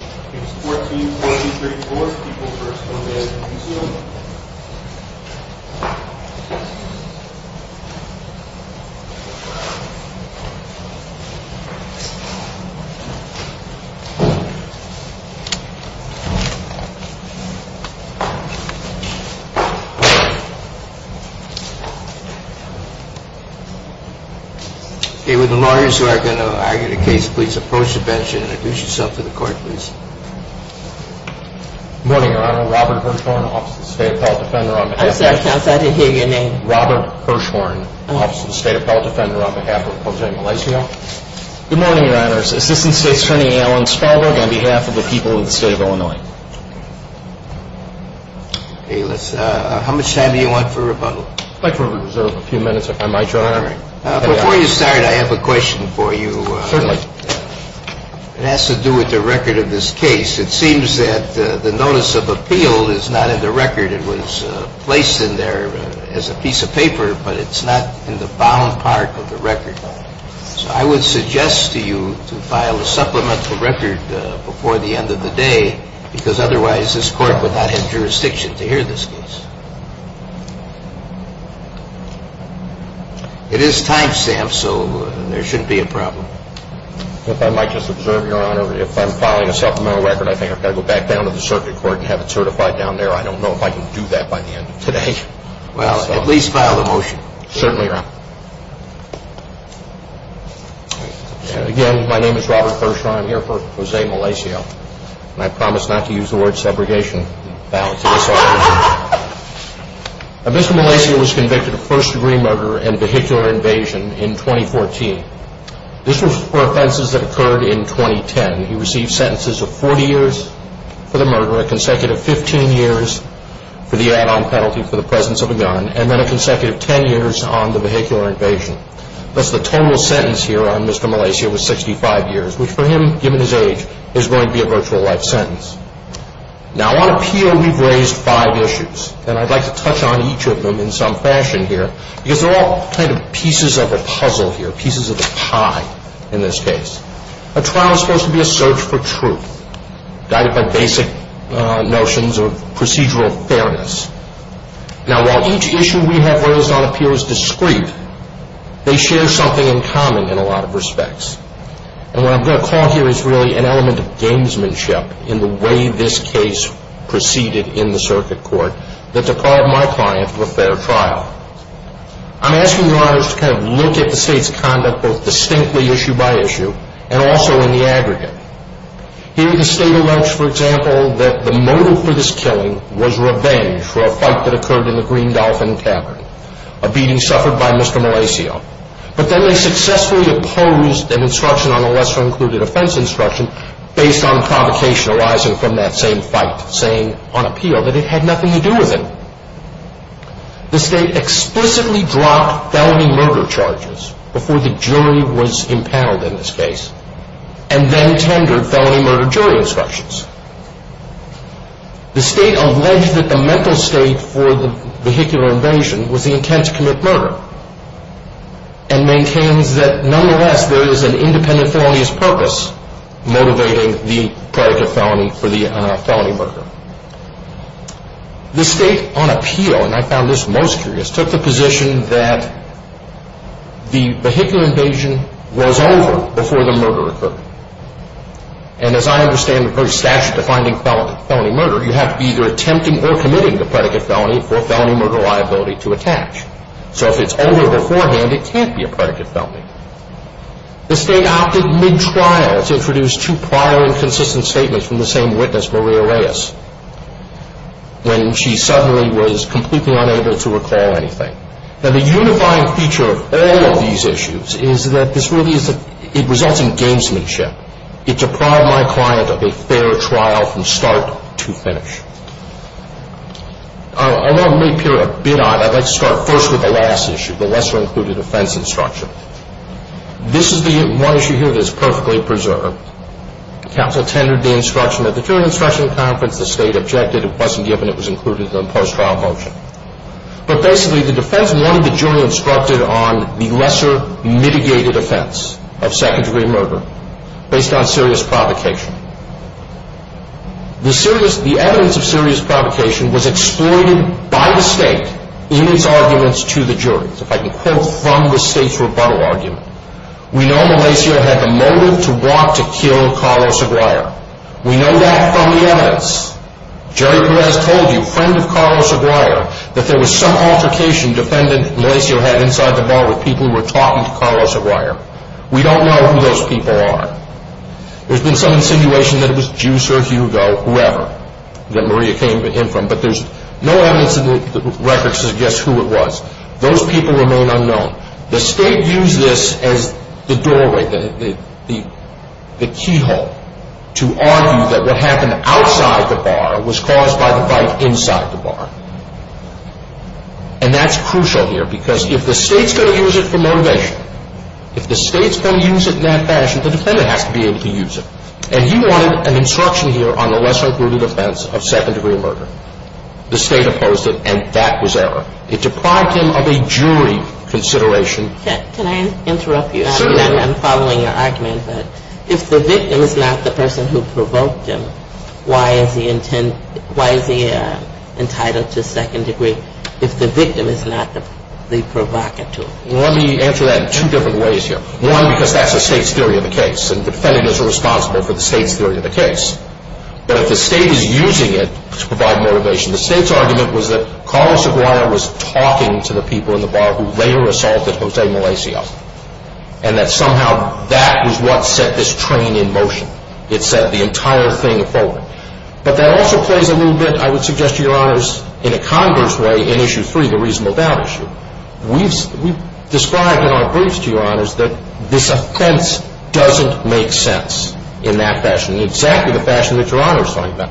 A. With the lawyers who are going to argue the case, please approach the bench and introduce yourself to the court, please. Good morning, Your Honor. Robert Hirshhorn, Office of the State Appellate Defender, on behalf of... I'm sorry, Counsel, I didn't hear your name. Robert Hirshhorn, Office of the State Appellate Defender, on behalf of Progeny Malaysia. Good morning, Your Honors. Assistant State Attorney Alan Spalberg, on behalf of the people of the state of Illinois. Okay, let's... How much time do you want for rebuttal? I'd like to reserve a few minutes, if I might, Your Honor. Before you start, I have a question for you. Certainly. It has to do with the record of this case. It seems that the notice of appeal is not in the record. It was placed in there as a piece of paper, but it's not in the bound part of the record. So I would suggest to you to file a supplemental record before the end of the day, because otherwise this court would not have jurisdiction to hear this case. It is timestamped, so there shouldn't be a problem. If I might just observe, Your Honor, if I'm filing a supplemental record, I think I've got to go back down to the circuit court and have it certified down there. I don't know if I can do that by the end of today. Well, at least file the motion. Certainly, Your Honor. Again, my name is Robert Hirshhorn. I'm here for Jose Malaysia. And I promise not to use the word segregation. Mr. Malaysia was convicted of first-degree murder and vehicular invasion in 2014. This was for offenses that occurred in 2010. He received sentences of 40 years for the murder, a consecutive 15 years for the add-on penalty for the presence of a gun, and then a consecutive 10 years on the vehicular invasion. Thus, the total sentence here on Mr. Malaysia was 65 years, which for him, given his age, is going to be a virtual life sentence. Now, on appeal, we've raised five issues. And I'd like to touch on each of them in some fashion here, because they're all kind of pieces of a puzzle here, pieces of the pie in this case. A trial is supposed to be a search for truth, guided by basic notions of procedural fairness. Now, while each issue we have raised on appeal is discrete, they share something in common in a lot of respects. And what I'm going to call here is really an element of gamesmanship in the way this case proceeded in the circuit court, that they're called my client of a fair trial. I'm asking your honors to kind of look at the state's conduct, both distinctly issue by issue, and also in the aggregate. Here, the state allege, for example, that the motive for this killing was revenge for a fight that occurred in the Green Dolphin Tavern, a beating suffered by Mr. Malaysia. But then they successfully opposed an instruction on a lesser-included offense instruction based on provocation arising from that same fight, saying on appeal that it had nothing to do with him. The state explicitly dropped felony murder charges before the jury was impaled in this case, and then tendered felony murder jury instructions. The state alleged that the mental state for the vehicular invasion was the intent to commit murder, and maintains that nonetheless there is an independent felonious purpose motivating the product of felony for the felony murder. The state on appeal, and I found this most curious, took the position that the vehicular invasion was over before the murder occurred. And as I understand the very statute defining felony murder, you have to be either attempting or committing the predicate felony for felony murder liability to attach. So if it's over beforehand, it can't be a predicate felony. The state opted mid-trial to introduce two prior and consistent statements from the same witness, Maria Reyes, when she suddenly was completely unable to recall anything. Now, the unifying feature of all of these issues is that this really is a, it results in gamesmanship. It deprived my client of a fair trial from start to finish. I want to really peer a bit on it. I'd like to start first with the last issue, the lesser-included offense instruction. This is the one issue here that is perfectly preserved. Counsel tendered the instruction at the jury instruction conference. The state objected. It wasn't given. It was included in the post-trial motion. But basically, the defense wanted the jury instructed on the lesser-mitigated offense of secondary murder based on serious provocation. The evidence of serious provocation was exploited by the state in its arguments to the jury, if I can quote from the state's rebuttal argument. We know Malacio had the motive to want to kill Carlos Aguirre. We know that from the evidence. Jerry Perez told you, friend of Carlos Aguirre, that there was some altercation defendant Malacio had inside the bar with people who were talking to Carlos Aguirre. We don't know who those people are. There's been some insinuation that it was Juice or Hugo, whoever, that Maria came in from. But there's no evidence in the records to suggest who it was. Those people remain unknown. The state used this as the doorway, the keyhole, to argue that what happened outside the bar was caused by the fight inside the bar. And that's crucial here because if the state's going to use it for motivation, if the state's going to use it in that fashion, the defendant has to be able to use it. And he wanted an instruction here on the lesser-included offense of second-degree murder. The state opposed it, and that was error. It deprived him of a jury consideration. Can I interrupt you? Certainly. I'm following your argument, but if the victim is not the person who provoked him, why is he entitled to second degree if the victim is not the provocateur? Let me answer that in two different ways here. One, because that's the state's theory of the case, and the defendant is responsible for the state's theory of the case. But if the state is using it to provide motivation, the state's argument was that Carlos Aguilar was talking to the people in the bar who later assaulted Jose Malacio, and that somehow that was what set this train in motion. It set the entire thing forward. But that also plays a little bit, I would suggest to your honors, in a converse way in Issue 3, the reasonable doubt issue. We've described in our briefs to your honors that this offense doesn't make sense in that fashion. Exactly the fashion that your honors find that.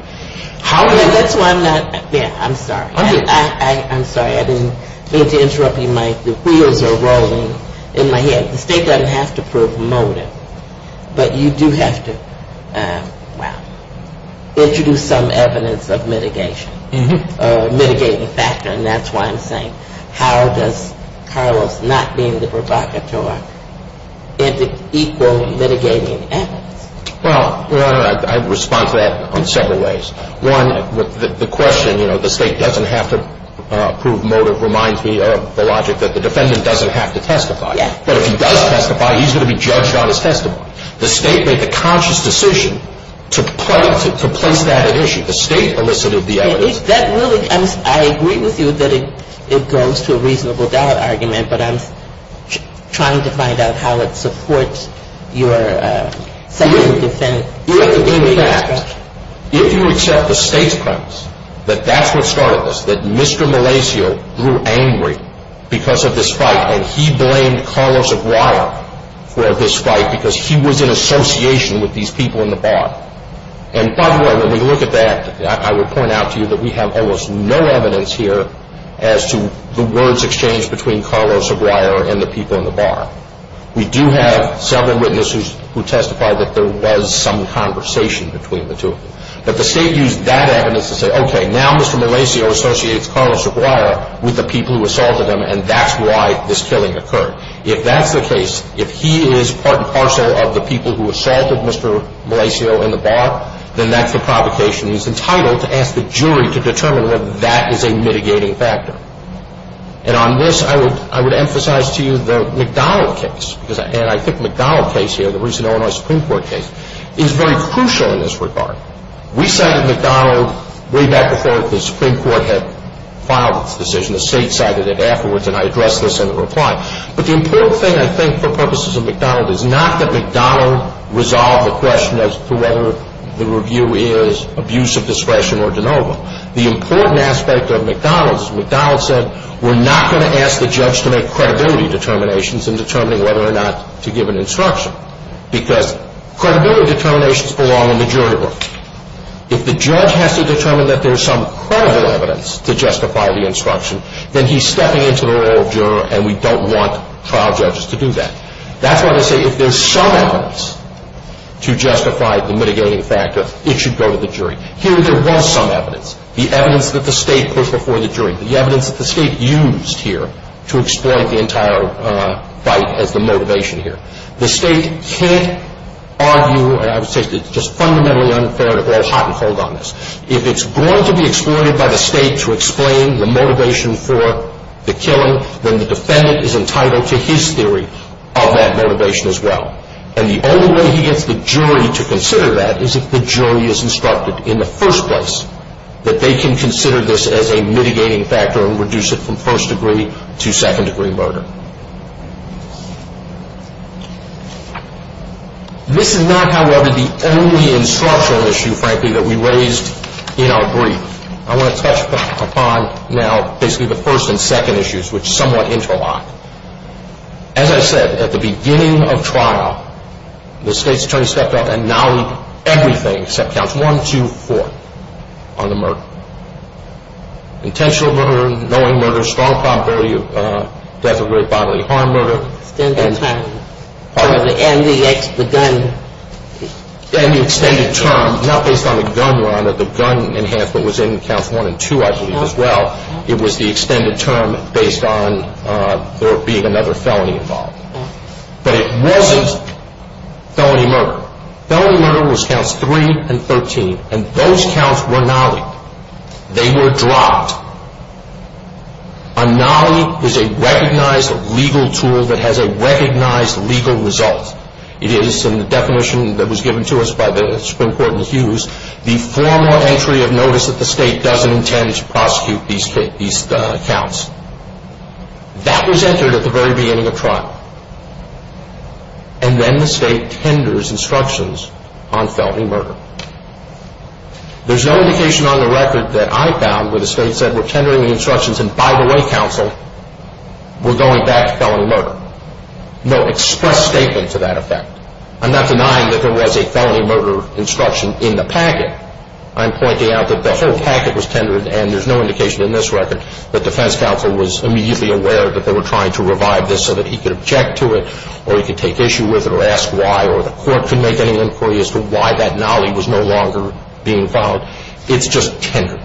That's why I'm not, yeah, I'm sorry. I'm sorry. I didn't mean to interrupt you, Mike. The wheels are rolling in my head. The state doesn't have to promote it, but you do have to, well, introduce some evidence of mitigation, a mitigating factor, and that's why I'm saying, how does Carlos not being the provocateur equal mitigating evidence? Well, your honor, I respond to that in several ways. One, the question, you know, the state doesn't have to prove motive reminds me of the logic that the defendant doesn't have to testify. But if he does testify, he's going to be judged on his testimony. The state made the conscious decision to place that at issue. The state elicited the evidence. I agree with you that it goes to a reasonable doubt argument, but I'm trying to find out how it supports your second defense. If you accept the state's premise that that's what started this, that Mr. Malacio grew angry because of this fight, and he blamed Carlos Aguilar for this fight because he was in association with these people in the bar. And by the way, when we look at that, I would point out to you that we have almost no evidence here as to the words exchanged between Carlos Aguilar and the people in the bar. We do have several witnesses who testified that there was some conversation between the two of them. But the state used that evidence to say, okay, now Mr. Malacio associates Carlos Aguilar with the people who assaulted him, and that's why this killing occurred. If that's the case, if he is part and parcel of the people who assaulted Mr. Malacio in the bar, then that's the provocation. He's entitled to ask the jury to determine whether that is a mitigating factor. And on this, I would emphasize to you the McDonald case. And I think the McDonald case here, the recent Illinois Supreme Court case, is very crucial in this regard. We cited McDonald way back before the Supreme Court had filed its decision. The state cited it afterwards, and I addressed this in a reply. But the important thing, I think, for purposes of McDonald is not that McDonald resolved the question as to whether the review is abuse of discretion or de novo. The important aspect of McDonald is McDonald said, we're not going to ask the judge to make credibility determinations in determining whether or not to give an instruction. Because credibility determinations belong in the jury room. If the judge has to determine that there's some credible evidence to justify the instruction, then he's stepping into the role of juror, and we don't want trial judges to do that. That's why I say if there's some evidence to justify the mitigating factor, it should go to the jury. Here, there was some evidence. The evidence that the state put before the jury, the evidence that the state used here to exploit the entire fight as the motivation here. The state can't argue, and I would say it's just fundamentally unfair to go hot and cold on this. If it's going to be exploited by the state to explain the motivation for the killing, then the defendant is entitled to his theory of that motivation as well. And the only way he gets the jury to consider that is if the jury is instructed in the first place that they can consider this as a mitigating factor and reduce it from first degree to second degree murder. This is not, however, the only instructional issue, frankly, that we raised in our brief. I want to touch upon now basically the first and second issues, which somewhat interlock. As I said, at the beginning of trial, the state's attorney stepped up and now we do everything except counts one, two, four on the murder. Intentional murder, knowing murder, strong probability of death or bodily harm murder. Extended term. Pardon me? And the gun. And the extended term. Not based on the gun, Your Honor. The gun enhancement was in counts one and two, I believe, as well. It was the extended term based on there being another felony involved. But it wasn't felony murder. Felony murder was counts three and 13, and those counts were nollied. They were dropped. A nollie is a recognized legal tool that has a recognized legal result. It is, in the definition that was given to us by the Supreme Court in the Hughes, the formal entry of notice that the state doesn't intend to prosecute these counts. And then the state tenders instructions on felony murder. There's no indication on the record that I found where the state said we're tendering the instructions and, by the way, counsel, we're going back to felony murder. No express statement to that effect. I'm not denying that there was a felony murder instruction in the packet. I'm pointing out that the whole packet was tendered, and there's no indication in this record that defense counsel was immediately aware that they were trying to revive this so that he could object to it, or he could take issue with it, or ask why, or the court could make any inquiry as to why that nollie was no longer being filed. It's just tendered.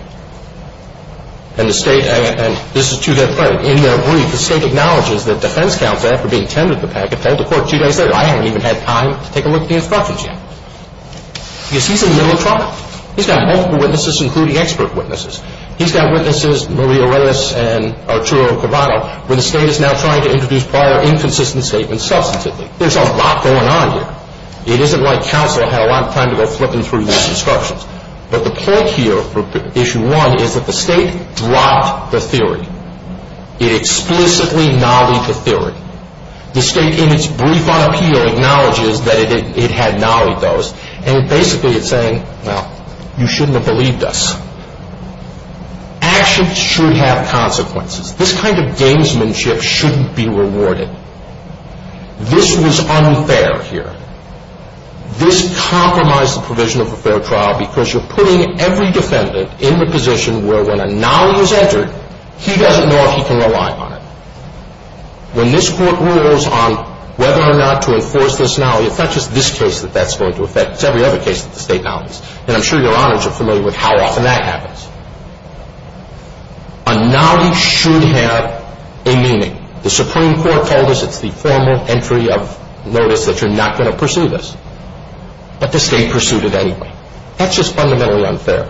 And the state, and this is two days later, in their brief, the state acknowledges that defense counsel, after being tendered the packet, told the court two days later, I haven't even had time to take a look at the instructions yet. Because he's in the middle of trouble. He's got multiple witnesses, including expert witnesses. He's got witnesses, Maria Reyes and Arturo Cavallo, where the state is now trying to introduce prior inconsistent statements substantively. There's a lot going on here. It isn't like counsel had a lot of time to go flipping through these instructions. But the point here for issue one is that the state dropped the theory. It explicitly nollied the theory. The state, in its brief on appeal, acknowledges that it had nollied those. And basically it's saying, well, you shouldn't have believed us. Action should have consequences. This kind of gamesmanship shouldn't be rewarded. This was unfair here. This compromised the provision of a fair trial because you're putting every defendant in the position where when a nollie is entered, he doesn't know if he can rely on it. When this court rules on whether or not to enforce this nollie, it's not just this case that that's going to affect. It's every other case that the state nollies. And I'm sure your honors are familiar with how often that happens. A nollie should have a meaning. The Supreme Court told us it's the formal entry of notice that you're not going to pursue this. But the state pursued it anyway. That's just fundamentally unfair.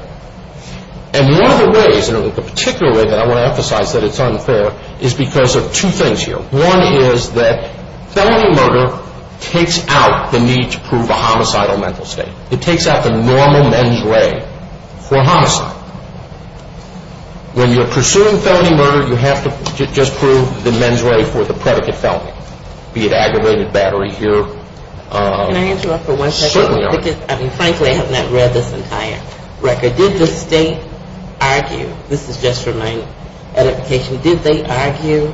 And one of the ways, and the particular way that I want to emphasize that it's unfair, is because of two things here. One is that felony murder takes out the need to prove a homicidal mental state. It takes out the normal mens rea for homicide. When you're pursuing felony murder, you have to just prove the mens rea for the predicate felony, be it aggravated battery here. Can I interrupt for one second? Certainly. Because, I mean, frankly, I have not read this entire record. Did the state argue, this is just for my edification, did they argue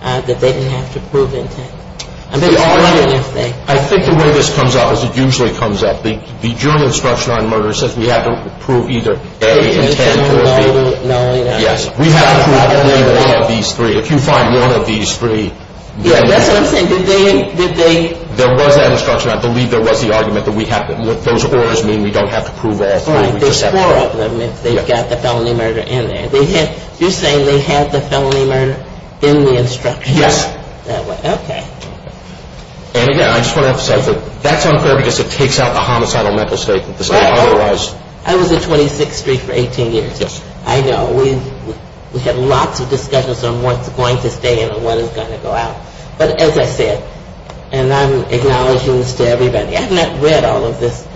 that they didn't have to prove intent? I think the way this comes up is it usually comes up. The general instruction on murder says we have to prove either A, intent, or B. Nollie, nollie, nollie, nollie. Yes. We have to prove only one of these three. If you find one of these three. Yeah, that's what I'm saying. There was that instruction. I believe there was the argument that those orders mean we don't have to prove all three. There's four of them if they've got the felony murder in there. You're saying they have the felony murder in the instruction? Yes. Okay. And, again, I just want to emphasize that that's unfair because it takes out the homicidal mental state. Well, I was at 26th Street for 18 years. Yes. I know. We had lots of discussions on what's going to stay in and what is going to go out. But, as I said, and I'm acknowledging this to everybody, I have not read all of this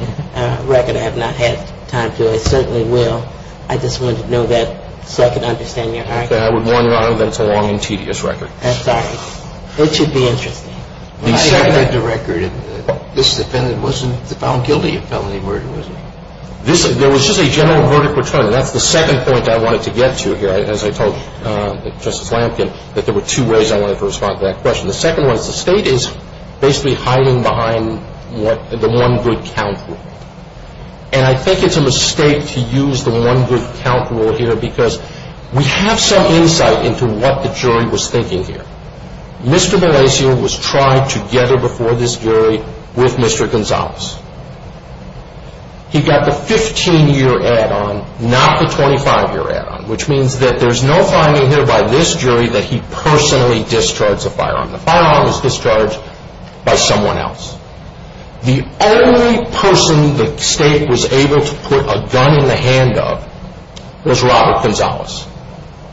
record. I have not had time to. I certainly will. I just wanted to know that so I could understand your argument. I would warn you, Honor, that it's a long and tedious record. I'm sorry. It should be interesting. When I read the record, this defendant wasn't found guilty of felony murder, was he? There was just a general murder patronum. That's the second point I wanted to get to here. As I told Justice Lampkin, that there were two ways I wanted to respond to that question. The second one is the state is basically hiding behind the one good count rule. And I think it's a mistake to use the one good count rule here because we have some insight into what the jury was thinking here. Mr. Bellacio was tried together before this jury with Mr. Gonzalez. He got the 15-year add-on, not the 25-year add-on, which means that there's no finding here by this jury that he personally discharged the firearm. The firearm was discharged by someone else. The only person the state was able to put a gun in the hand of was Robert Gonzalez,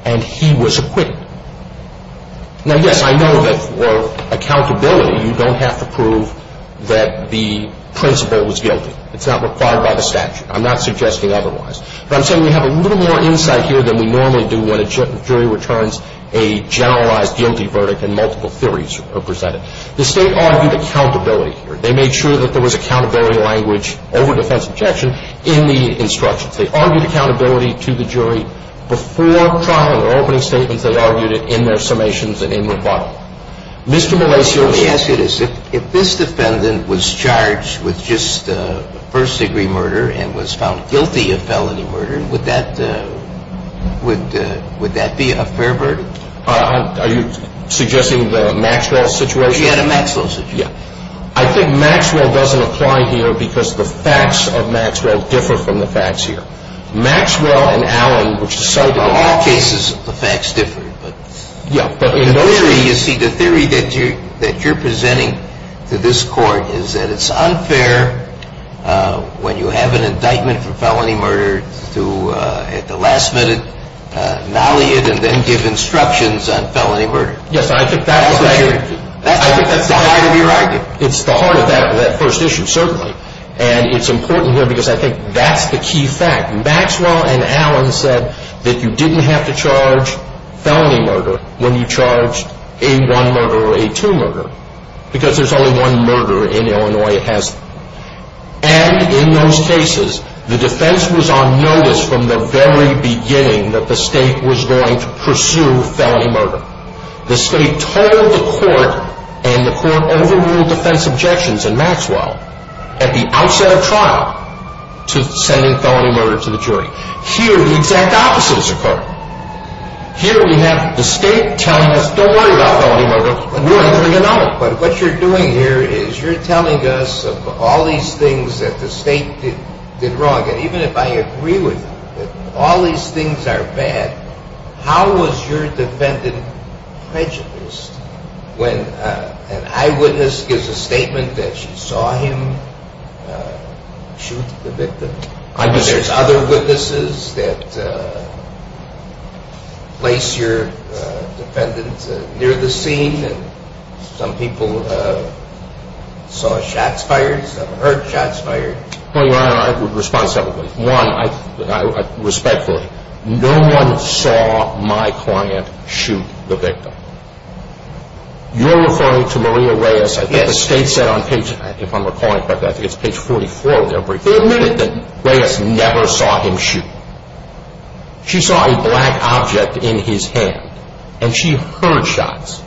and he was acquitted. Now, yes, I know that for accountability, you don't have to prove that the principal was guilty. It's not required by the statute. I'm not suggesting otherwise. But I'm saying we have a little more insight here than we normally do when a jury returns a generalized guilty verdict and multiple theories are presented. The state argued accountability here. They made sure that there was accountability language over defense objection in the instructions. They argued accountability to the jury before trial in their opening statements. They argued it in their summations and in their filing. Mr. Bellacio. Let me ask you this. If this defendant was charged with just first-degree murder and was found guilty of felony murder, would that be a fair verdict? Are you suggesting the Maxwell situation? He had a Maxwell situation. I think Maxwell doesn't apply here because the facts of Maxwell differ from the facts here. Maxwell and Allen, which is so different. In all cases, the facts differ. Yeah. You see, the theory that you're presenting to this court is that it's unfair when you have an indictment for felony murder to, at the last minute, nolly it and then give instructions on felony murder. Yes, I think that's the heart of that first issue, certainly. And it's important here because I think that's the key fact. Maxwell and Allen said that you didn't have to charge felony murder when you charged a one-murder or a two-murder because there's only one murder in Illinois. And in those cases, the defense was on notice from the very beginning that the state was going to pursue felony murder. The state told the court, and the court overruled defense objections in Maxwell at the outset of trial to sending felony murder to the jury. Here, the exact opposite has occurred. Here, we have the state telling us, don't worry about felony murder. We're entering a null. But what you're doing here is you're telling us of all these things that the state did wrong. And even if I agree with all these things are bad, how was your defendant prejudiced when an eyewitness gives a statement that she saw him shoot the victim? There's other witnesses that place your defendant near the scene. Some people saw shots fired, some heard shots fired. I would respond separately. One, respectfully, no one saw my client shoot the victim. You're referring to Maria Reyes. Yes. The state said on page, if I'm recalling correctly, I think it's page 44 of their briefing. They admitted that Reyes never saw him shoot. She saw a black object in his hand, and she heard shots.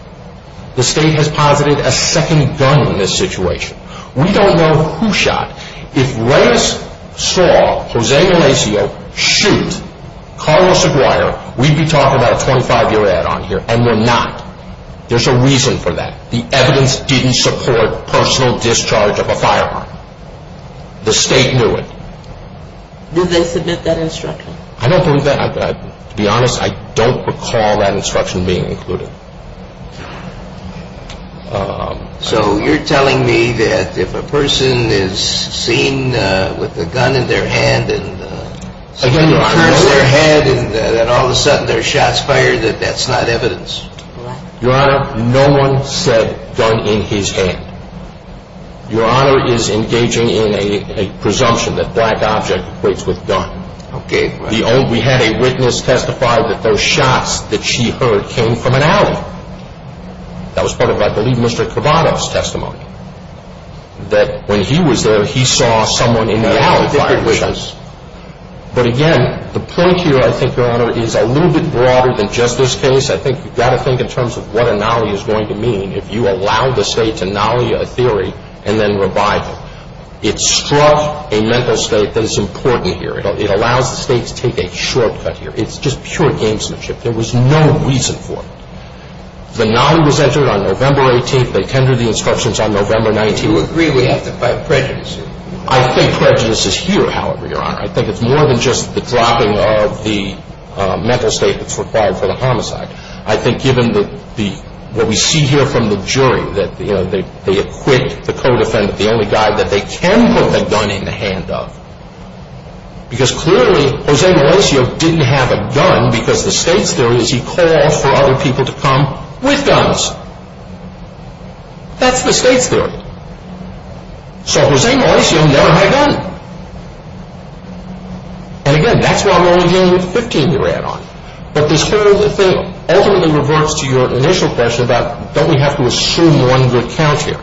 The state has posited a second gun in this situation. We don't know who shot. If Reyes saw Jose Malacio shoot Carlos Aguirre, we'd be talking about a 25-year ad on here, and we're not. There's a reason for that. The evidence didn't support personal discharge of a firearm. The state knew it. Did they submit that instruction? I don't believe that. To be honest, I don't recall that instruction being included. So you're telling me that if a person is seen with a gun in their hand and see him curse their head and that all of a sudden there's shots fired, that that's not evidence? Your Honor, no one said gun in his hand. Your Honor is engaging in a presumption that black object equates with gun. Okay. We had a witness testify that those shots that she heard came from an alley. That was part of, I believe, Mr. Kravatov's testimony, that when he was there, he saw someone in the alley fire shots. But again, the point here, I think, Your Honor, is a little bit broader than just this case. I think you've got to think in terms of what an alley is going to mean. If you allow the state to nolly a theory and then revive it, it struck a mental state that is important here. It allows the state to take a shortcut here. It's just pure gamesmanship. There was no reason for it. The nolly was entered on November 18th. They tendered the instructions on November 19th. You agree we have to fight prejudice here. I think prejudice is here, however, Your Honor. I think it's more than just the dropping of the mental state that's required for the homicide. I think given what we see here from the jury, that they acquit the co-defendant, the only guy that they can put the gun in the hand of. Because clearly, Jose Malacio didn't have a gun because the state's theory is he called for other people to come with guns. That's the state's theory. So Jose Malacio never had a gun. And again, that's why we're only dealing with the 15 we ran on. But this whole thing ultimately reverts to your initial question about don't we have to assume one good count here.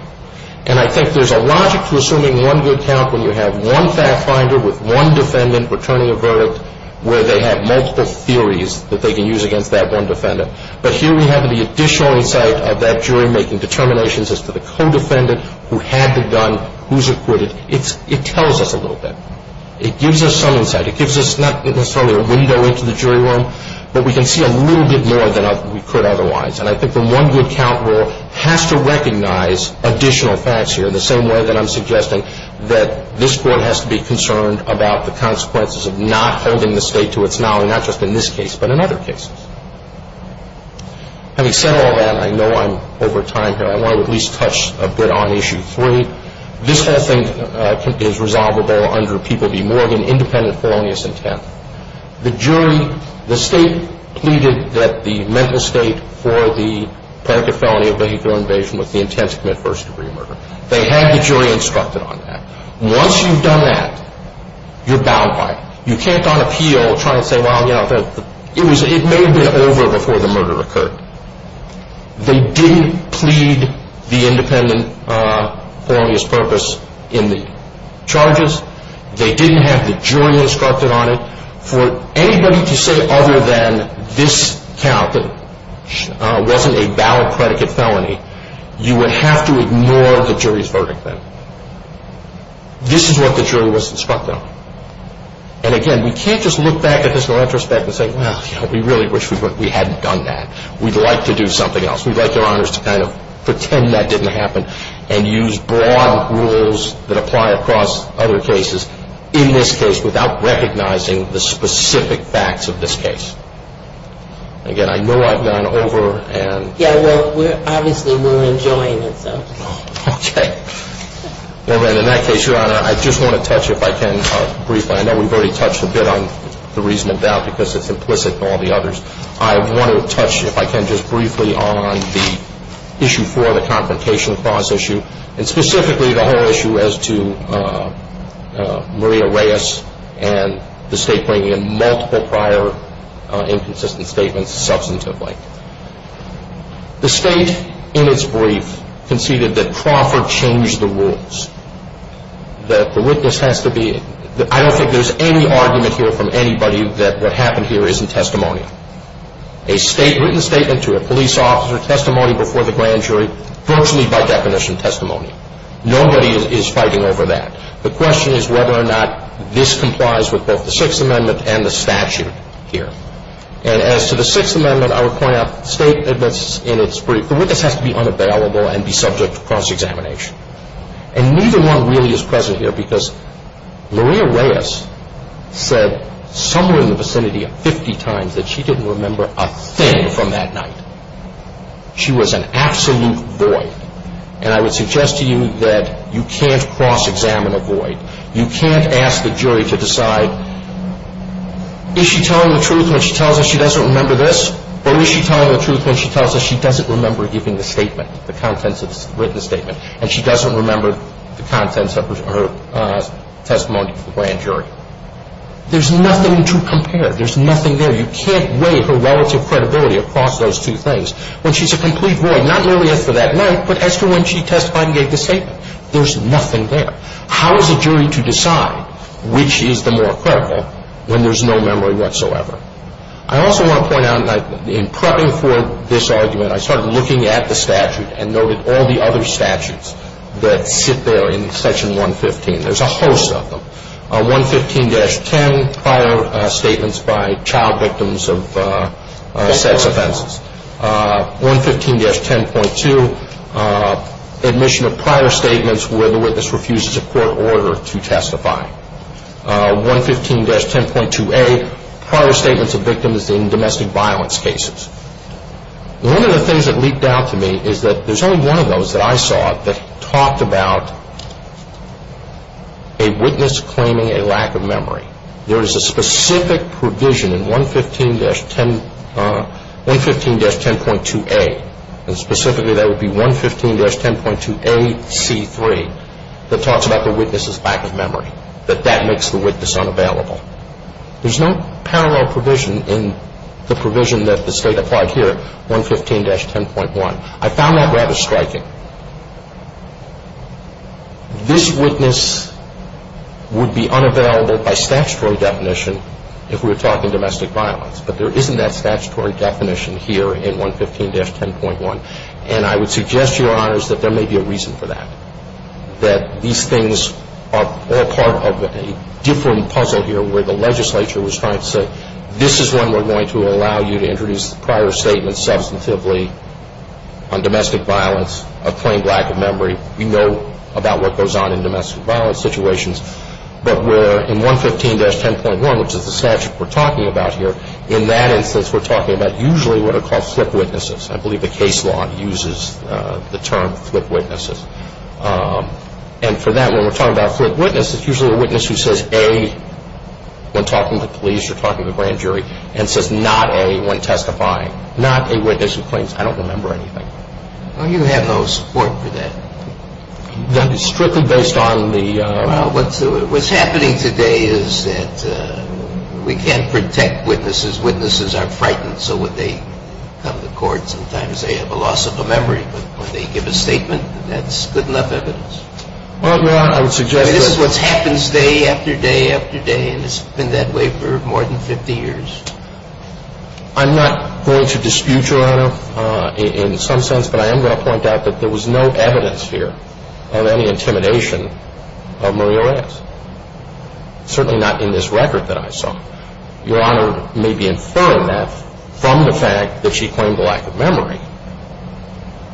And I think there's a logic to assuming one good count when you have one fact finder with one defendant returning a verdict where they have multiple theories that they can use against that one defendant. But here we have the additional insight of that jury making determinations as to the co-defendant who had the gun, who's acquitted. It tells us a little bit. It gives us some insight. It gives us not necessarily a window into the jury room, but we can see a little bit more than we could otherwise. And I think the one good count rule has to recognize additional facts here in the same way that I'm suggesting, that this court has to be concerned about the consequences of not holding the state to its knowledge, not just in this case but in other cases. Having said all that, I know I'm over time here. I want to at least touch a bit on Issue 3. This whole thing is resolvable under People v. Morgan, independent felonious intent. The jury, the state pleaded that the mental state for the predicate felony of vehicular invasion was the intent to commit first-degree murder. They had the jury instructed on that. Once you've done that, you're bound by it. You can't, on appeal, try and say, well, you know, it may have been over before the murder occurred. They didn't plead the independent felonious purpose in the charges. They didn't have the jury instructed on it. For anybody to say other than this count, that it wasn't a valid predicate felony, you would have to ignore the jury's verdict then. This is what the jury was instructed on. And again, we can't just look back at this in retrospect and say, well, you know, we really wish we hadn't done that. We'd like to do something else. We'd like Your Honors to kind of pretend that didn't happen and use broad rules that apply across other cases in this case without recognizing the specific facts of this case. Again, I know I've gone over and… Yeah, well, obviously we're enjoying it, so… Okay. Well, then, in that case, Your Honor, I just want to touch, if I can briefly, I know we've already touched a bit on the reason of doubt because it's implicit in all the others. I want to touch, if I can, just briefly on the issue for the confrontation clause issue and specifically the whole issue as to Maria Reyes and the State bringing in multiple prior inconsistent statements substantively. The State, in its brief, conceded that Crawford changed the rules, that the witness has to be… I don't think there's any argument here from anybody that what happened here isn't testimony. A written statement to a police officer, testimony before the grand jury, virtually by definition testimony. Nobody is fighting over that. The question is whether or not this complies with both the Sixth Amendment and the statute here. And as to the Sixth Amendment, I would point out the State admits in its brief, the witness has to be unavailable and be subject to cross-examination. And neither one really is present here because Maria Reyes said somewhere in the vicinity of 50 times that she didn't remember a thing from that night. She was an absolute void. And I would suggest to you that you can't cross-examine a void. You can't ask the jury to decide, is she telling the truth when she tells us she doesn't remember this? Or is she telling the truth when she tells us she doesn't remember giving the statement, the contents of the written statement, and she doesn't remember the contents of her testimony to the grand jury? There's nothing to compare. There's nothing there. You can't weigh her relative credibility across those two things. When she's a complete void, not merely as to that night, but as to when she testified and gave the statement. There's nothing there. How is a jury to decide which is the more credible when there's no memory whatsoever? I also want to point out that in prepping for this argument, I started looking at the statute and noted all the other statutes that sit there in Section 115. There's a host of them. 115-10, prior statements by child victims of sex offenses. 115-10.2, admission of prior statements where the witness refuses a court order to testify. 115-10.2a, prior statements of victims in domestic violence cases. One of the things that leaked out to me is that there's only one of those that I saw that talked about a witness claiming a lack of memory. There is a specific provision in 115-10.2a, and specifically that would be 115-10.2ac3, that talks about the witness's lack of memory, that that makes the witness unavailable. There's no parallel provision in the provision that the State applied here, 115-10.1. I found that rather striking. This witness would be unavailable by statutory definition if we were talking domestic violence, but there isn't that statutory definition here in 115-10.1, and I would suggest to your honors that there may be a reason for that, that these things are all part of a different puzzle here where the legislature was trying to say, this is when we're going to allow you to introduce prior statements substantively on domestic violence, a plain lack of memory, we know about what goes on in domestic violence situations, but where in 115-10.1, which is the statute we're talking about here, in that instance we're talking about usually what are called flip witnesses. I believe the case law uses the term flip witnesses. And for that, when we're talking about flip witnesses, it's usually a witness who says A when talking to police or talking to a grand jury and says not A when testifying, not a witness who claims, I don't remember anything. Well, you have no support for that. That is strictly based on the... Well, what's happening today is that we can't protect witnesses. Witnesses are frightened, so when they come to court, sometimes they have a loss of a memory, but when they give a statement, that's good enough evidence. Well, Your Honor, I would suggest that... This is what happens day after day after day, and it's been that way for more than 50 years. I'm not going to dispute Your Honor in some sense, but I am going to point out that there was no evidence here of any intimidation of Maria Reyes, certainly not in this record that I saw. Your Honor may be inferring that from the fact that she claimed a lack of memory,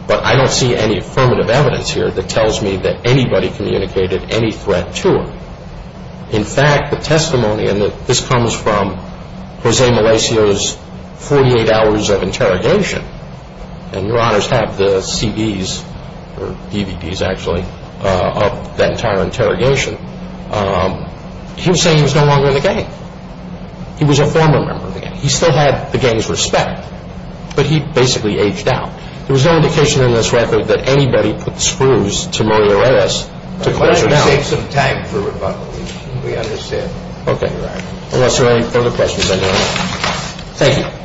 but I don't see any affirmative evidence here that tells me that anybody communicated any threat to her. In fact, the testimony, and this comes from Jose Malacio's 48 hours of interrogation, and Your Honors have the CDs, or DVDs actually, of that entire interrogation. He was saying he was no longer in the gang. He was a former member of the gang. He still had the gang's respect, but he basically aged out. There was no indication in this record that anybody put screws to Maria Reyes to close her down. Let's save some time for rebuttal. We understand. Okay. Unless there are any further questions, I don't know. Thank you.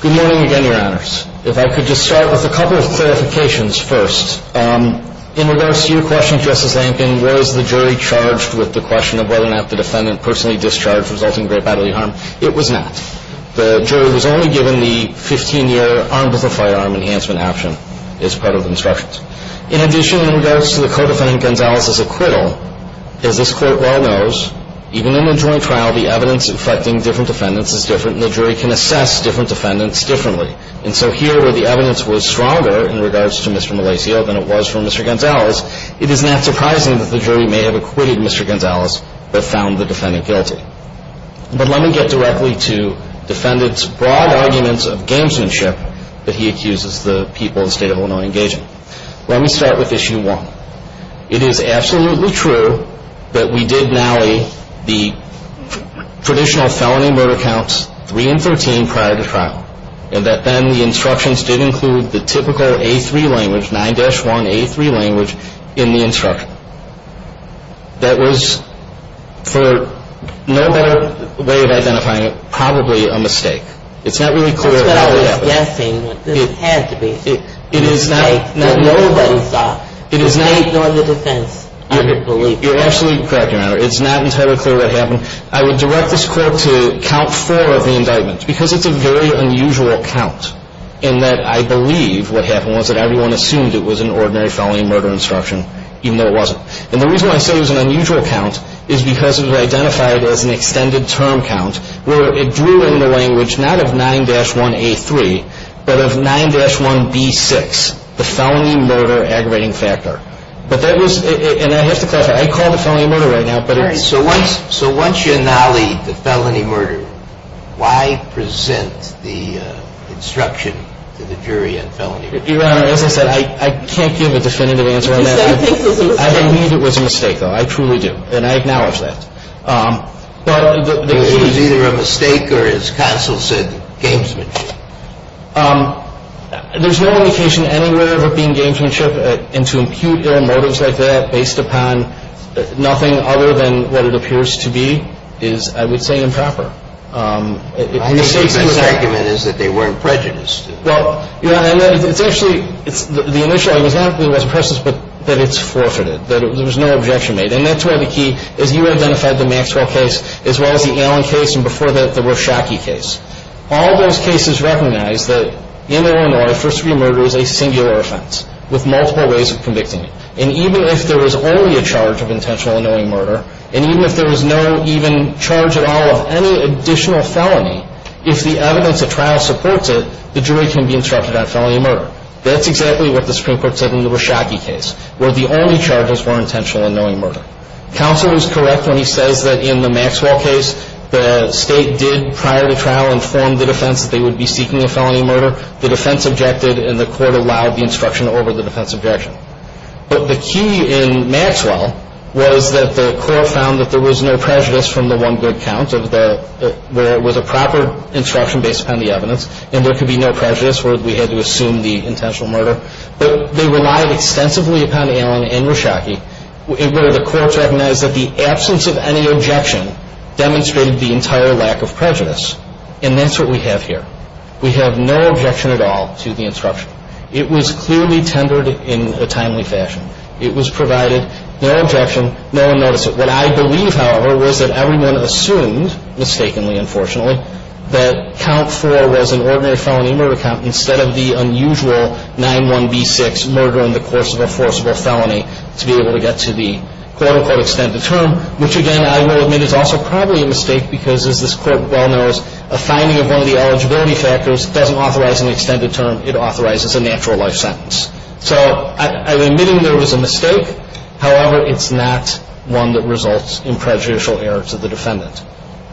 Good morning again, Your Honors. If I could just start with a couple of clarifications first. In regards to your question, Justice Lankin, was the jury charged with the question of whether or not the defendant personally discharged resulting in great bodily harm? It was not. The jury was only given the 15-year armed with a firearm enhancement option as part of the instructions. In addition, in regards to the Co-Defendant Gonzalez's acquittal, as this Court well knows, even in a joint trial, the evidence affecting different defendants is different, and the jury can assess different defendants differently. And so here, where the evidence was stronger in regards to Mr. Malacio than it was for Mr. Gonzalez, it is not surprising that the jury may have acquitted Mr. Gonzalez but found the defendant guilty. But let me get directly to defendants' broad arguments of gamesmanship that he accuses the people of the State of Illinois engaging. Let me start with Issue 1. It is absolutely true that we did nally the traditional felony murder counts 3 and 13 prior to trial, and that then the instructions did include the typical A3 language, 9-1A3 language, in the instruction. That was, for no better way of identifying it, probably a mistake. It's not really clear how it happened. That's what I was guessing. It had to be a mistake that nobody saw. It is not. They ignored the defense, I would believe. You're absolutely correct, Your Honor. It's not entirely clear what happened. I would direct this court to Count 4 of the indictment, because it's a very unusual count, in that I believe what happened was that everyone assumed it was an ordinary felony murder instruction, even though it wasn't. And the reason why I say it was an unusual count is because it was identified as an extended term count where it drew in the language not of 9-1A3, but of 9-1B6, the felony murder aggravating factor. And I have to clarify, I called it felony murder right now. So once you annulled the felony murder, why present the instruction to the jury on felony murder? Your Honor, as I said, I can't give a definitive answer on that. Because I think it was a mistake. I don't mean it was a mistake, though. I truly do. And I acknowledge that. It was either a mistake or, as counsel said, gamesmanship. There's no indication anywhere of it being gamesmanship. And to impute their motives like that based upon nothing other than what it appears to be is, I would say, improper. I think the best argument is that they weren't prejudiced. Well, Your Honor, it's actually the initial example was the presence that it's forfeited, that there was no objection made. And that's where the key is you identified the Maxwell case as well as the Allen case and, before that, the Warshacki case. All those cases recognize that, in Illinois, first-degree murder is a singular offense with multiple ways of convicting it. And even if there was only a charge of intentional annulling murder, and even if there was no even charge at all of any additional felony, if the evidence at trial supports it, the jury can be instructed on felony murder. That's exactly what the Supreme Court said in the Warshacki case, where the only charges were intentional annulling murder. Counsel was correct when he says that, in the Maxwell case, the State did, prior to trial, inform the defense that they would be seeking a felony murder. The defense objected, and the court allowed the instruction over the defense objection. But the key in Maxwell was that the court found that there was no prejudice from the one good count, where it was a proper instruction based upon the evidence, and there could be no prejudice where we had to assume the intentional murder. But they relied extensively upon Allen and Warshacki, where the courts recognized that the absence of any objection demonstrated the entire lack of prejudice. And that's what we have here. We have no objection at all to the instruction. It was clearly tendered in a timely fashion. It was provided, no objection, no one noticed it. What I believe, however, was that everyone assumed, mistakenly, unfortunately, that count four was an ordinary felony murder count, instead of the unusual 9-1-B-6 murder in the course of a forcible felony, to be able to get to the quote-unquote extended term, which, again, I will admit is also probably a mistake, because, as this court well knows, a finding of one of the eligibility factors doesn't authorize an extended term. It authorizes a natural life sentence. So I'm admitting there was a mistake. However, it's not one that results in prejudicial error to the defendant,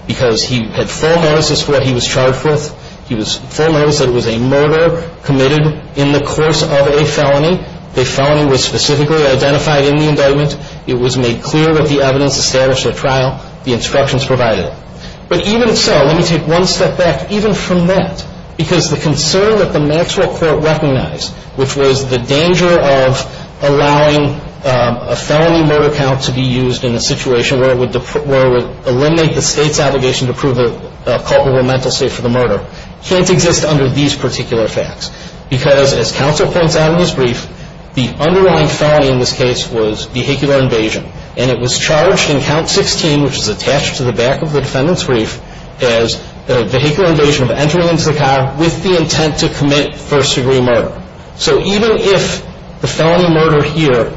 because he had full notice as to what he was charged with. He was full notice that it was a murder committed in the course of a felony. The felony was specifically identified in the indictment. It was made clear that the evidence established at trial, the instructions provided. But even so, let me take one step back, even from that, because the concern that the Maxwell Court recognized, which was the danger of allowing a felony murder count to be used in a situation where it would eliminate the state's obligation to prove a culpable mental state for the murder, can't exist under these particular facts. Because, as counsel points out in his brief, the underlying felony in this case was vehicular invasion, and it was charged in count 16, which is attached to the back of the defendant's brief, as vehicular invasion of entering into the car with the intent to commit first-degree murder. So even if the felony murder here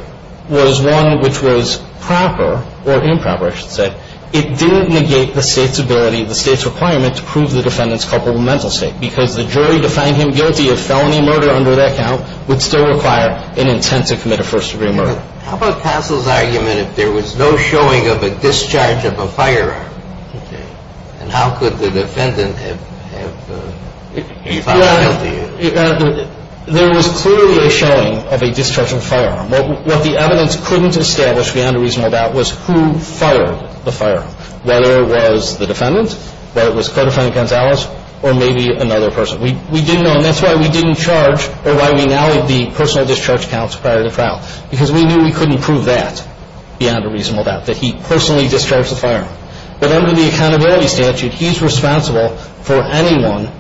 was one which was proper or improper, I should say, it didn't negate the state's ability, the state's requirement to prove the defendant's culpable mental state, because the jury defined him guilty of felony murder under that count would still require an intent to commit a first-degree murder. But how about Castle's argument if there was no showing of a discharge of a firearm? Okay. And how could the defendant have been found guilty? There was clearly a showing of a discharge of a firearm. What the evidence couldn't establish beyond a reasonable doubt was who fired the firearm, whether it was the defendant, whether it was Codefendant Gonzalez, or maybe another person. We didn't know. And that's why we didn't charge or why we now have the personal discharge counts prior to the trial, because we knew we couldn't prove that beyond a reasonable doubt, that he personally discharged the firearm. But under the accountability statute, he's responsible for anyone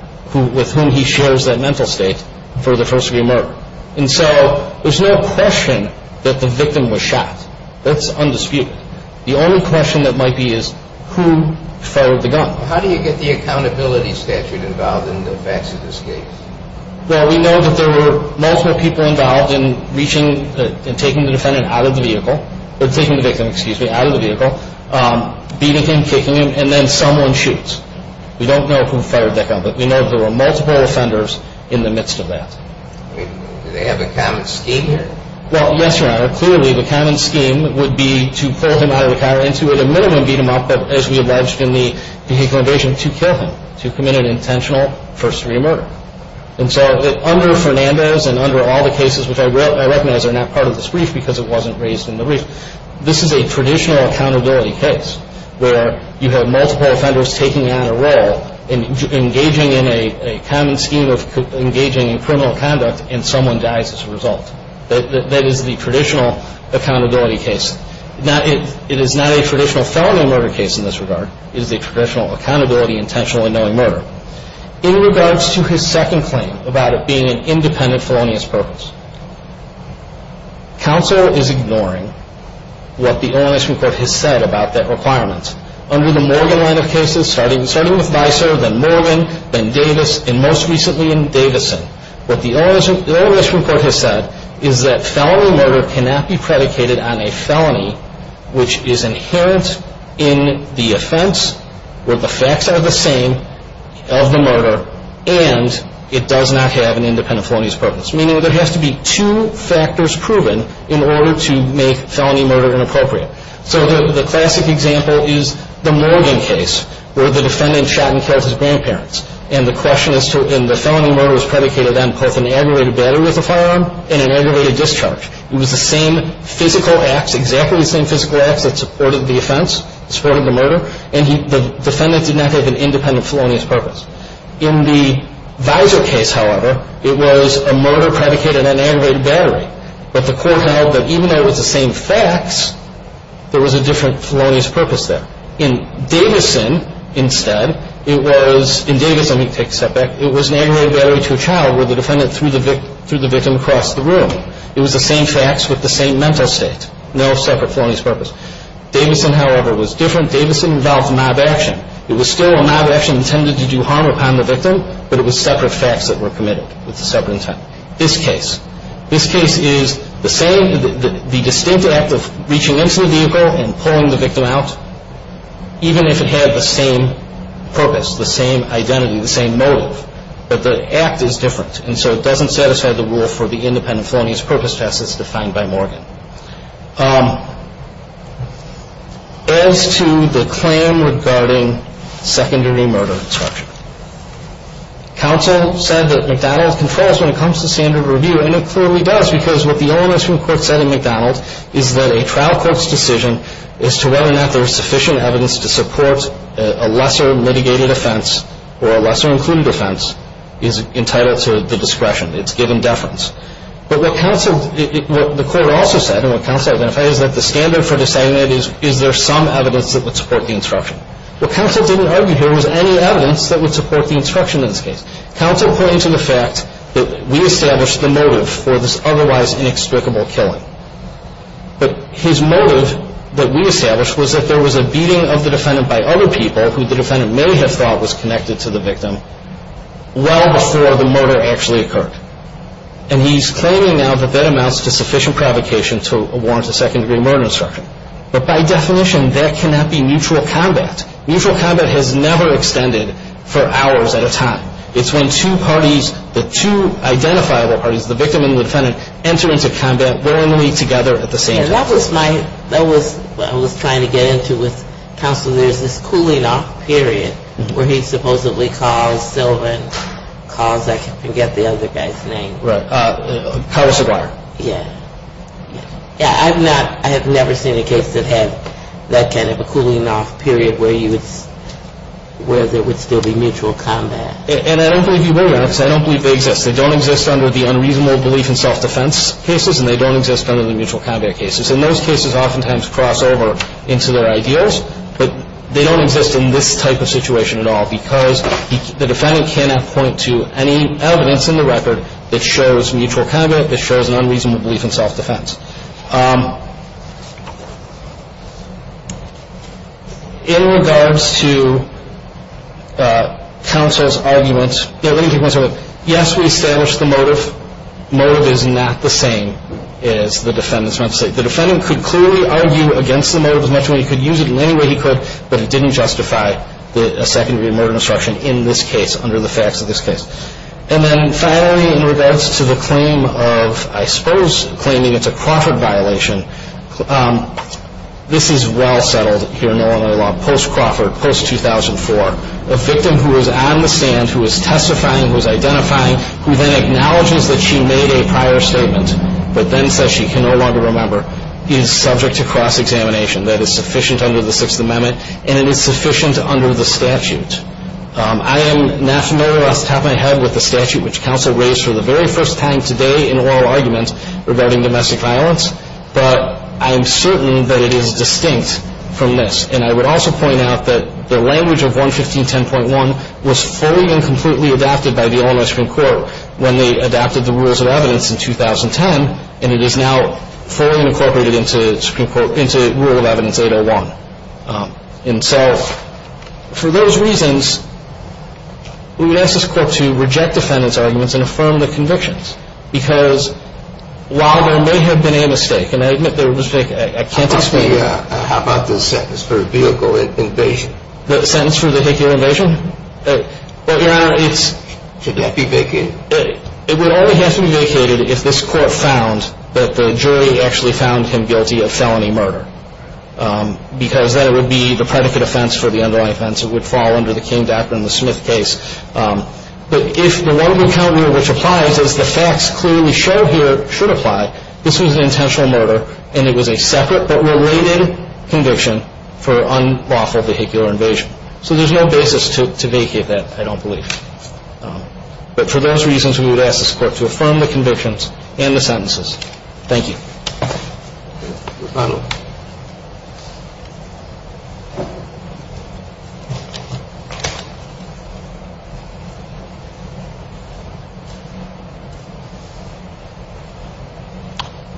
with whom he shares that mental state for the first-degree murder. And so there's no question that the victim was shot. That's undisputed. The only question that might be is who fired the gun. How do you get the accountability statute involved in the facts of this case? Well, we know that there were multiple people involved in reaching and taking the defendant out of the vehicle, or taking the victim, excuse me, out of the vehicle, beating him, kicking him, and then someone shoots. We don't know who fired that gun, but we know there were multiple offenders in the midst of that. Do they have a common scheme here? Well, yes, Your Honor. Clearly, the common scheme would be to pull him out of the car and to, at a minimum, beat him up, as we alleged in the vehicle invasion, to kill him, to commit an intentional first-degree murder. And so under Fernandez and under all the cases, which I recognize are not part of this brief because it wasn't raised in the brief, this is a traditional accountability case where you have multiple offenders taking on a role and engaging in a common scheme of engaging in criminal conduct, and someone dies as a result. That is the traditional accountability case. Now, it is not a traditional felony murder case in this regard. It is a traditional accountability intentionally knowing murder. In regards to his second claim about it being an independent felonious purpose, counsel is ignoring what the OMS report has said about that requirement. Under the Morgan line of cases, starting with Vicer, then Morgan, then Davis, and most recently in Davison, what the OMS report has said is that felony murder cannot be predicated on a felony which is inherent in the offense where the facts are the same of the murder and it does not have an independent felonious purpose, meaning there has to be two factors proven in order to make felony murder inappropriate. So the classic example is the Morgan case where the defendant shot and killed his grandparents, and the question is to, and the felony murder is predicated on both an aggravated battery with a firearm and an aggravated discharge. It was the same physical acts, exactly the same physical acts that supported the offense, supported the murder, and the defendant did not have an independent felonious purpose. In the Vicer case, however, it was a murder predicated on an aggravated battery, but the court held that even though it was the same facts, there was a different felonious purpose there. In Davison, instead, it was, in Davison, let me take a step back, it was an aggravated battery to a child where the defendant threw the victim across the room. It was the same facts with the same mental state, no separate felonious purpose. Davison, however, was different. Davison involved mob action. It was still a mob action intended to do harm upon the victim, but it was separate facts that were committed with a separate intent. This case. This case is the same, the distinct act of reaching into the vehicle and pulling the victim out, even if it had the same purpose, the same identity, the same motive, but the act is different, and so it doesn't satisfy the rule for the independent felonious purpose test as defined by Morgan. Counsel said that McDonald's controls when it comes to standard review, and it clearly does, because what the Illinois Supreme Court said in McDonald's is that a trial court's decision as to whether or not there is sufficient evidence to support a lesser mitigated offense or a lesser included offense is entitled to the discretion. It's given deference. But what counsel, what the court also said, and what counsel identified, is that the standard for deciding it is, is there some evidence that would support the instruction. What counsel didn't argue here was any evidence that would support the instruction in this case. Counsel pointed to the fact that we established the motive for this otherwise inexplicable killing, but his motive that we established was that there was a beating of the defendant by other people who the defendant may have thought was connected to the victim well before the murder actually occurred, and he's claiming now that that amounts to sufficient provocation to warrant a second-degree murder instruction. But by definition, that cannot be neutral combat. Neutral combat has never extended for hours at a time. It's when two parties, the two identifiable parties, the victim and the defendant, enter into combat willingly together at the same time. That was my, that was what I was trying to get into with counsel. There's this cooling-off period where he supposedly calls Sylvan, calls, I forget the other guy's name. Right. Carlos Aguirre. Yeah. Yeah, I've not, I have never seen a case that had that kind of a cooling-off period where you would, where there would still be mutual combat. And I don't believe you will, Your Honor, because I don't believe they exist. They don't exist under the unreasonable belief in self-defense cases, and they don't exist under the mutual combat cases. And those cases oftentimes cross over into their ideas, but they don't exist in this type of situation at all because the defendant cannot point to any evidence in the record that shows mutual combat, that shows an unreasonable belief in self-defense. In regards to counsel's argument, let me take one second. Yes, we established the motive. Motive is not the same as the defendant's motive. The defendant could clearly argue against the motive as much as he could, use it in any way he could, but it didn't justify a secondary murder instruction in this case under the facts of this case. And then finally, in regards to the claim of, I suppose, claiming it's a Crawford violation, this is well settled here in Illinois law post-Crawford, post-2004. A victim who is on the stand, who is testifying, who is identifying, who then acknowledges that she made a prior statement but then says she can no longer remember is subject to cross-examination. That is sufficient under the Sixth Amendment, and it is sufficient under the statute. I am not familiar, off the top of my head, with the statute which counsel raised for the very first time today in oral arguments regarding domestic violence, but I am certain that it is distinct from this. And I would also point out that the language of 11510.1 was fully and completely adapted by the Illinois Supreme Court when they adapted the Rules of Evidence in 2010, and it is now fully incorporated into Rule of Evidence 801. And so for those reasons, we would ask this Court to reject defendant's arguments and affirm the convictions because while there may have been a mistake, and I admit there was a mistake. I can't explain it. How about the sentence for vehicle invasion? The sentence for the vehicle invasion? Should that be vacated? It would only have to be vacated if this Court found that the jury actually found him guilty of felony murder because then it would be the predicate offense for the underlying offense. It would fall under the King-Docker-and-the-Smith case. But if the one we count here which applies, as the facts clearly show here should apply, this was an intentional murder and it was a separate but related conviction for unlawful vehicular invasion. So there's no basis to vacate that, I don't believe. But for those reasons, we would ask this Court to affirm the convictions and the sentences. Thank you. Your Honor.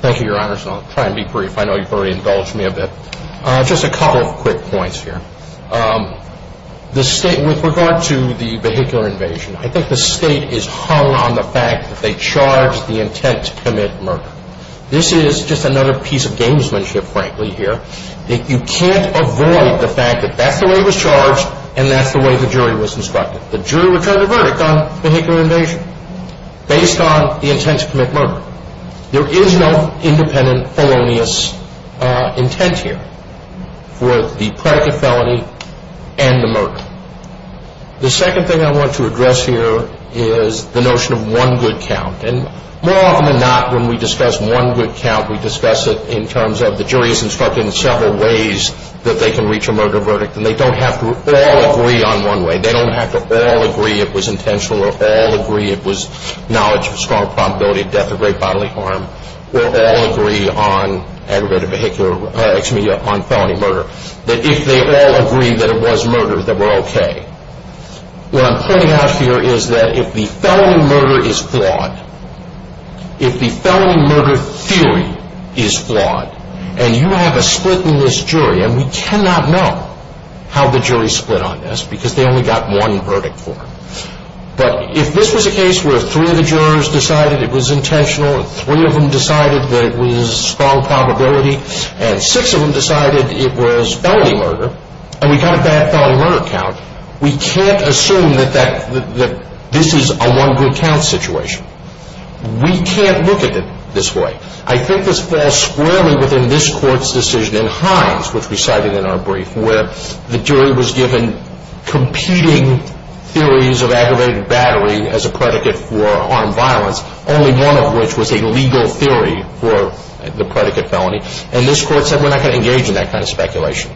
Thank you, Your Honor, so I'll try and be brief. I know you've already indulged me a bit. Just a couple of quick points here. With regard to the vehicular invasion, I think the State is hung on the fact that they charged the intent to commit murder. This is just another piece of gamesmanship, frankly, here. You can't avoid the fact that that's the way it was charged and that's the way the jury was instructed. The jury returned a verdict on vehicular invasion based on the intent to commit murder. There is no independent, felonious intent here for the predicate felony and the murder. The second thing I want to address here is the notion of one good count. And more often than not, when we discuss one good count, we discuss it in terms of the jury is instructed in several ways that they can reach a murder verdict. And they don't have to all agree on one way. They don't have to all agree it was intentional or all agree it was knowledge of strong probability of death or great bodily harm or all agree on aggravated vehicular, excuse me, on felony murder. If they all agree that it was murder, then we're okay. What I'm pointing out here is that if the felony murder is flawed, if the felony murder theory is flawed, and you have a split in this jury, and we cannot know how the jury split on this because they only got one verdict for it. But if this was a case where three of the jurors decided it was intentional and three of them decided that it was strong probability and six of them decided it was felony murder and we got a bad felony murder count, we can't assume that this is a one good count situation. We can't look at it this way. I think this falls squarely within this court's decision in Hines, which we cited in our brief, where the jury was given competing theories of aggravated battery as a predicate for armed violence, only one of which was a legal theory for the predicate felony. And this court said we're not going to engage in that kind of speculation.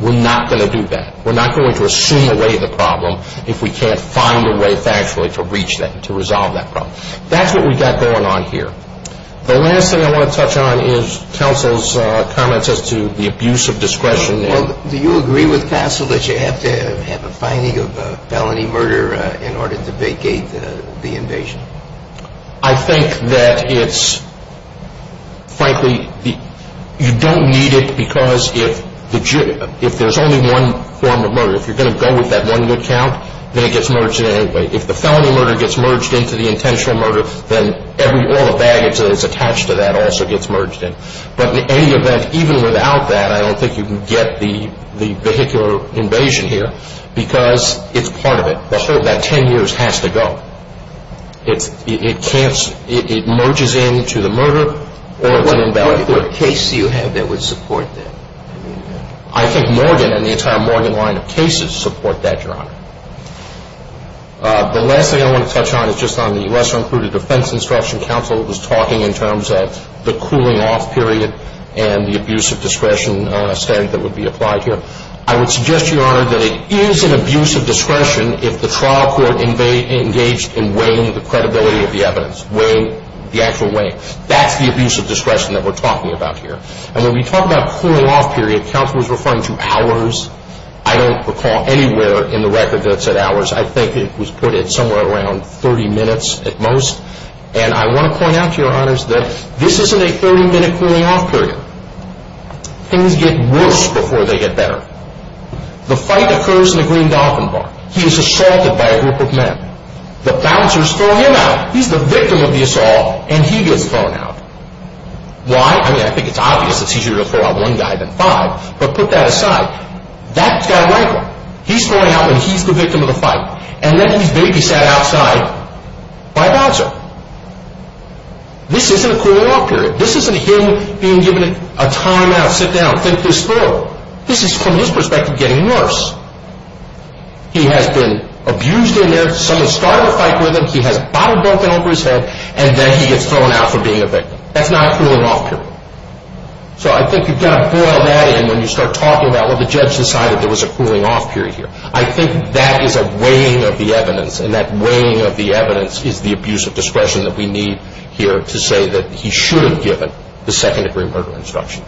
We're not going to do that. We're not going to assume away the problem if we can't find a way factually to reach that, to resolve that problem. That's what we've got going on here. The last thing I want to touch on is counsel's comments as to the abuse of discretion. Well, do you agree with counsel that you have to have a finding of felony murder in order to vacate the invasion? I think that it's, frankly, you don't need it because if there's only one form of murder, if you're going to go with that one good count, then it gets merged in anyway. If the felony murder gets merged into the intentional murder, then all the baggage that is attached to that also gets merged in. But in any event, even without that, I don't think you can get the vehicular invasion here because it's part of it. The whole of that 10 years has to go. It can't, it merges in to the murder or to the invalidation. What case do you have that would support that? I think Morgan and the entire Morgan line of cases support that, Your Honor. The last thing I want to touch on is just on the lesser-included defense instruction. Counsel was talking in terms of the cooling-off period and the abuse of discretion statute that would be applied here. I would suggest, Your Honor, that it is an abuse of discretion if the trial court engaged in weighing the credibility of the evidence, weighing, the actual weighing. That's the abuse of discretion that we're talking about here. And when we talk about cooling-off period, counsel was referring to hours. I don't recall anywhere in the record that it said hours. I think it was put at somewhere around 30 minutes at most. And I want to point out to Your Honors that this isn't a 30-minute cooling-off period. Things get worse before they get better. The fight occurs in the Green Gotham Bar. He is assaulted by a group of men. The bouncers throw him out. He's the victim of the assault, and he gets thrown out. Why? I mean, I think it's obvious that it's easier to throw out one guy than five, but put that aside. That guy right there, he's throwing out when he's the victim of the fight. And then he's babysat outside by a bouncer. This isn't a cooling-off period. This isn't him being given a time-out, sit down, think this through. This is, from his perspective, getting worse. He has been abused in there. Someone started a fight with him. He has a bottle broken over his head, and then he gets thrown out for being a victim. That's not a cooling-off period. So I think you've got to boil that in when you start talking about, well, the judge decided there was a cooling-off period here. I think that is a weighing of the evidence, and that weighing of the evidence is the abuse of discretion that we need here to say that he should have given the second-degree murder instruction.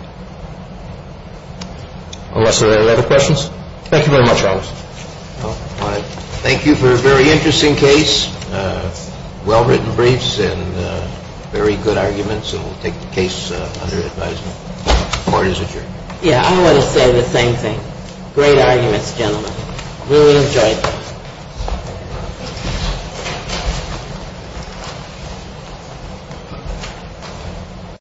Unless there are other questions. Thank you very much, Alex. Thank you for a very interesting case, well-written briefs, and very good arguments. And we'll take the case under advisement. Court is adjourned. Great arguments, gentlemen. Really enjoyed it.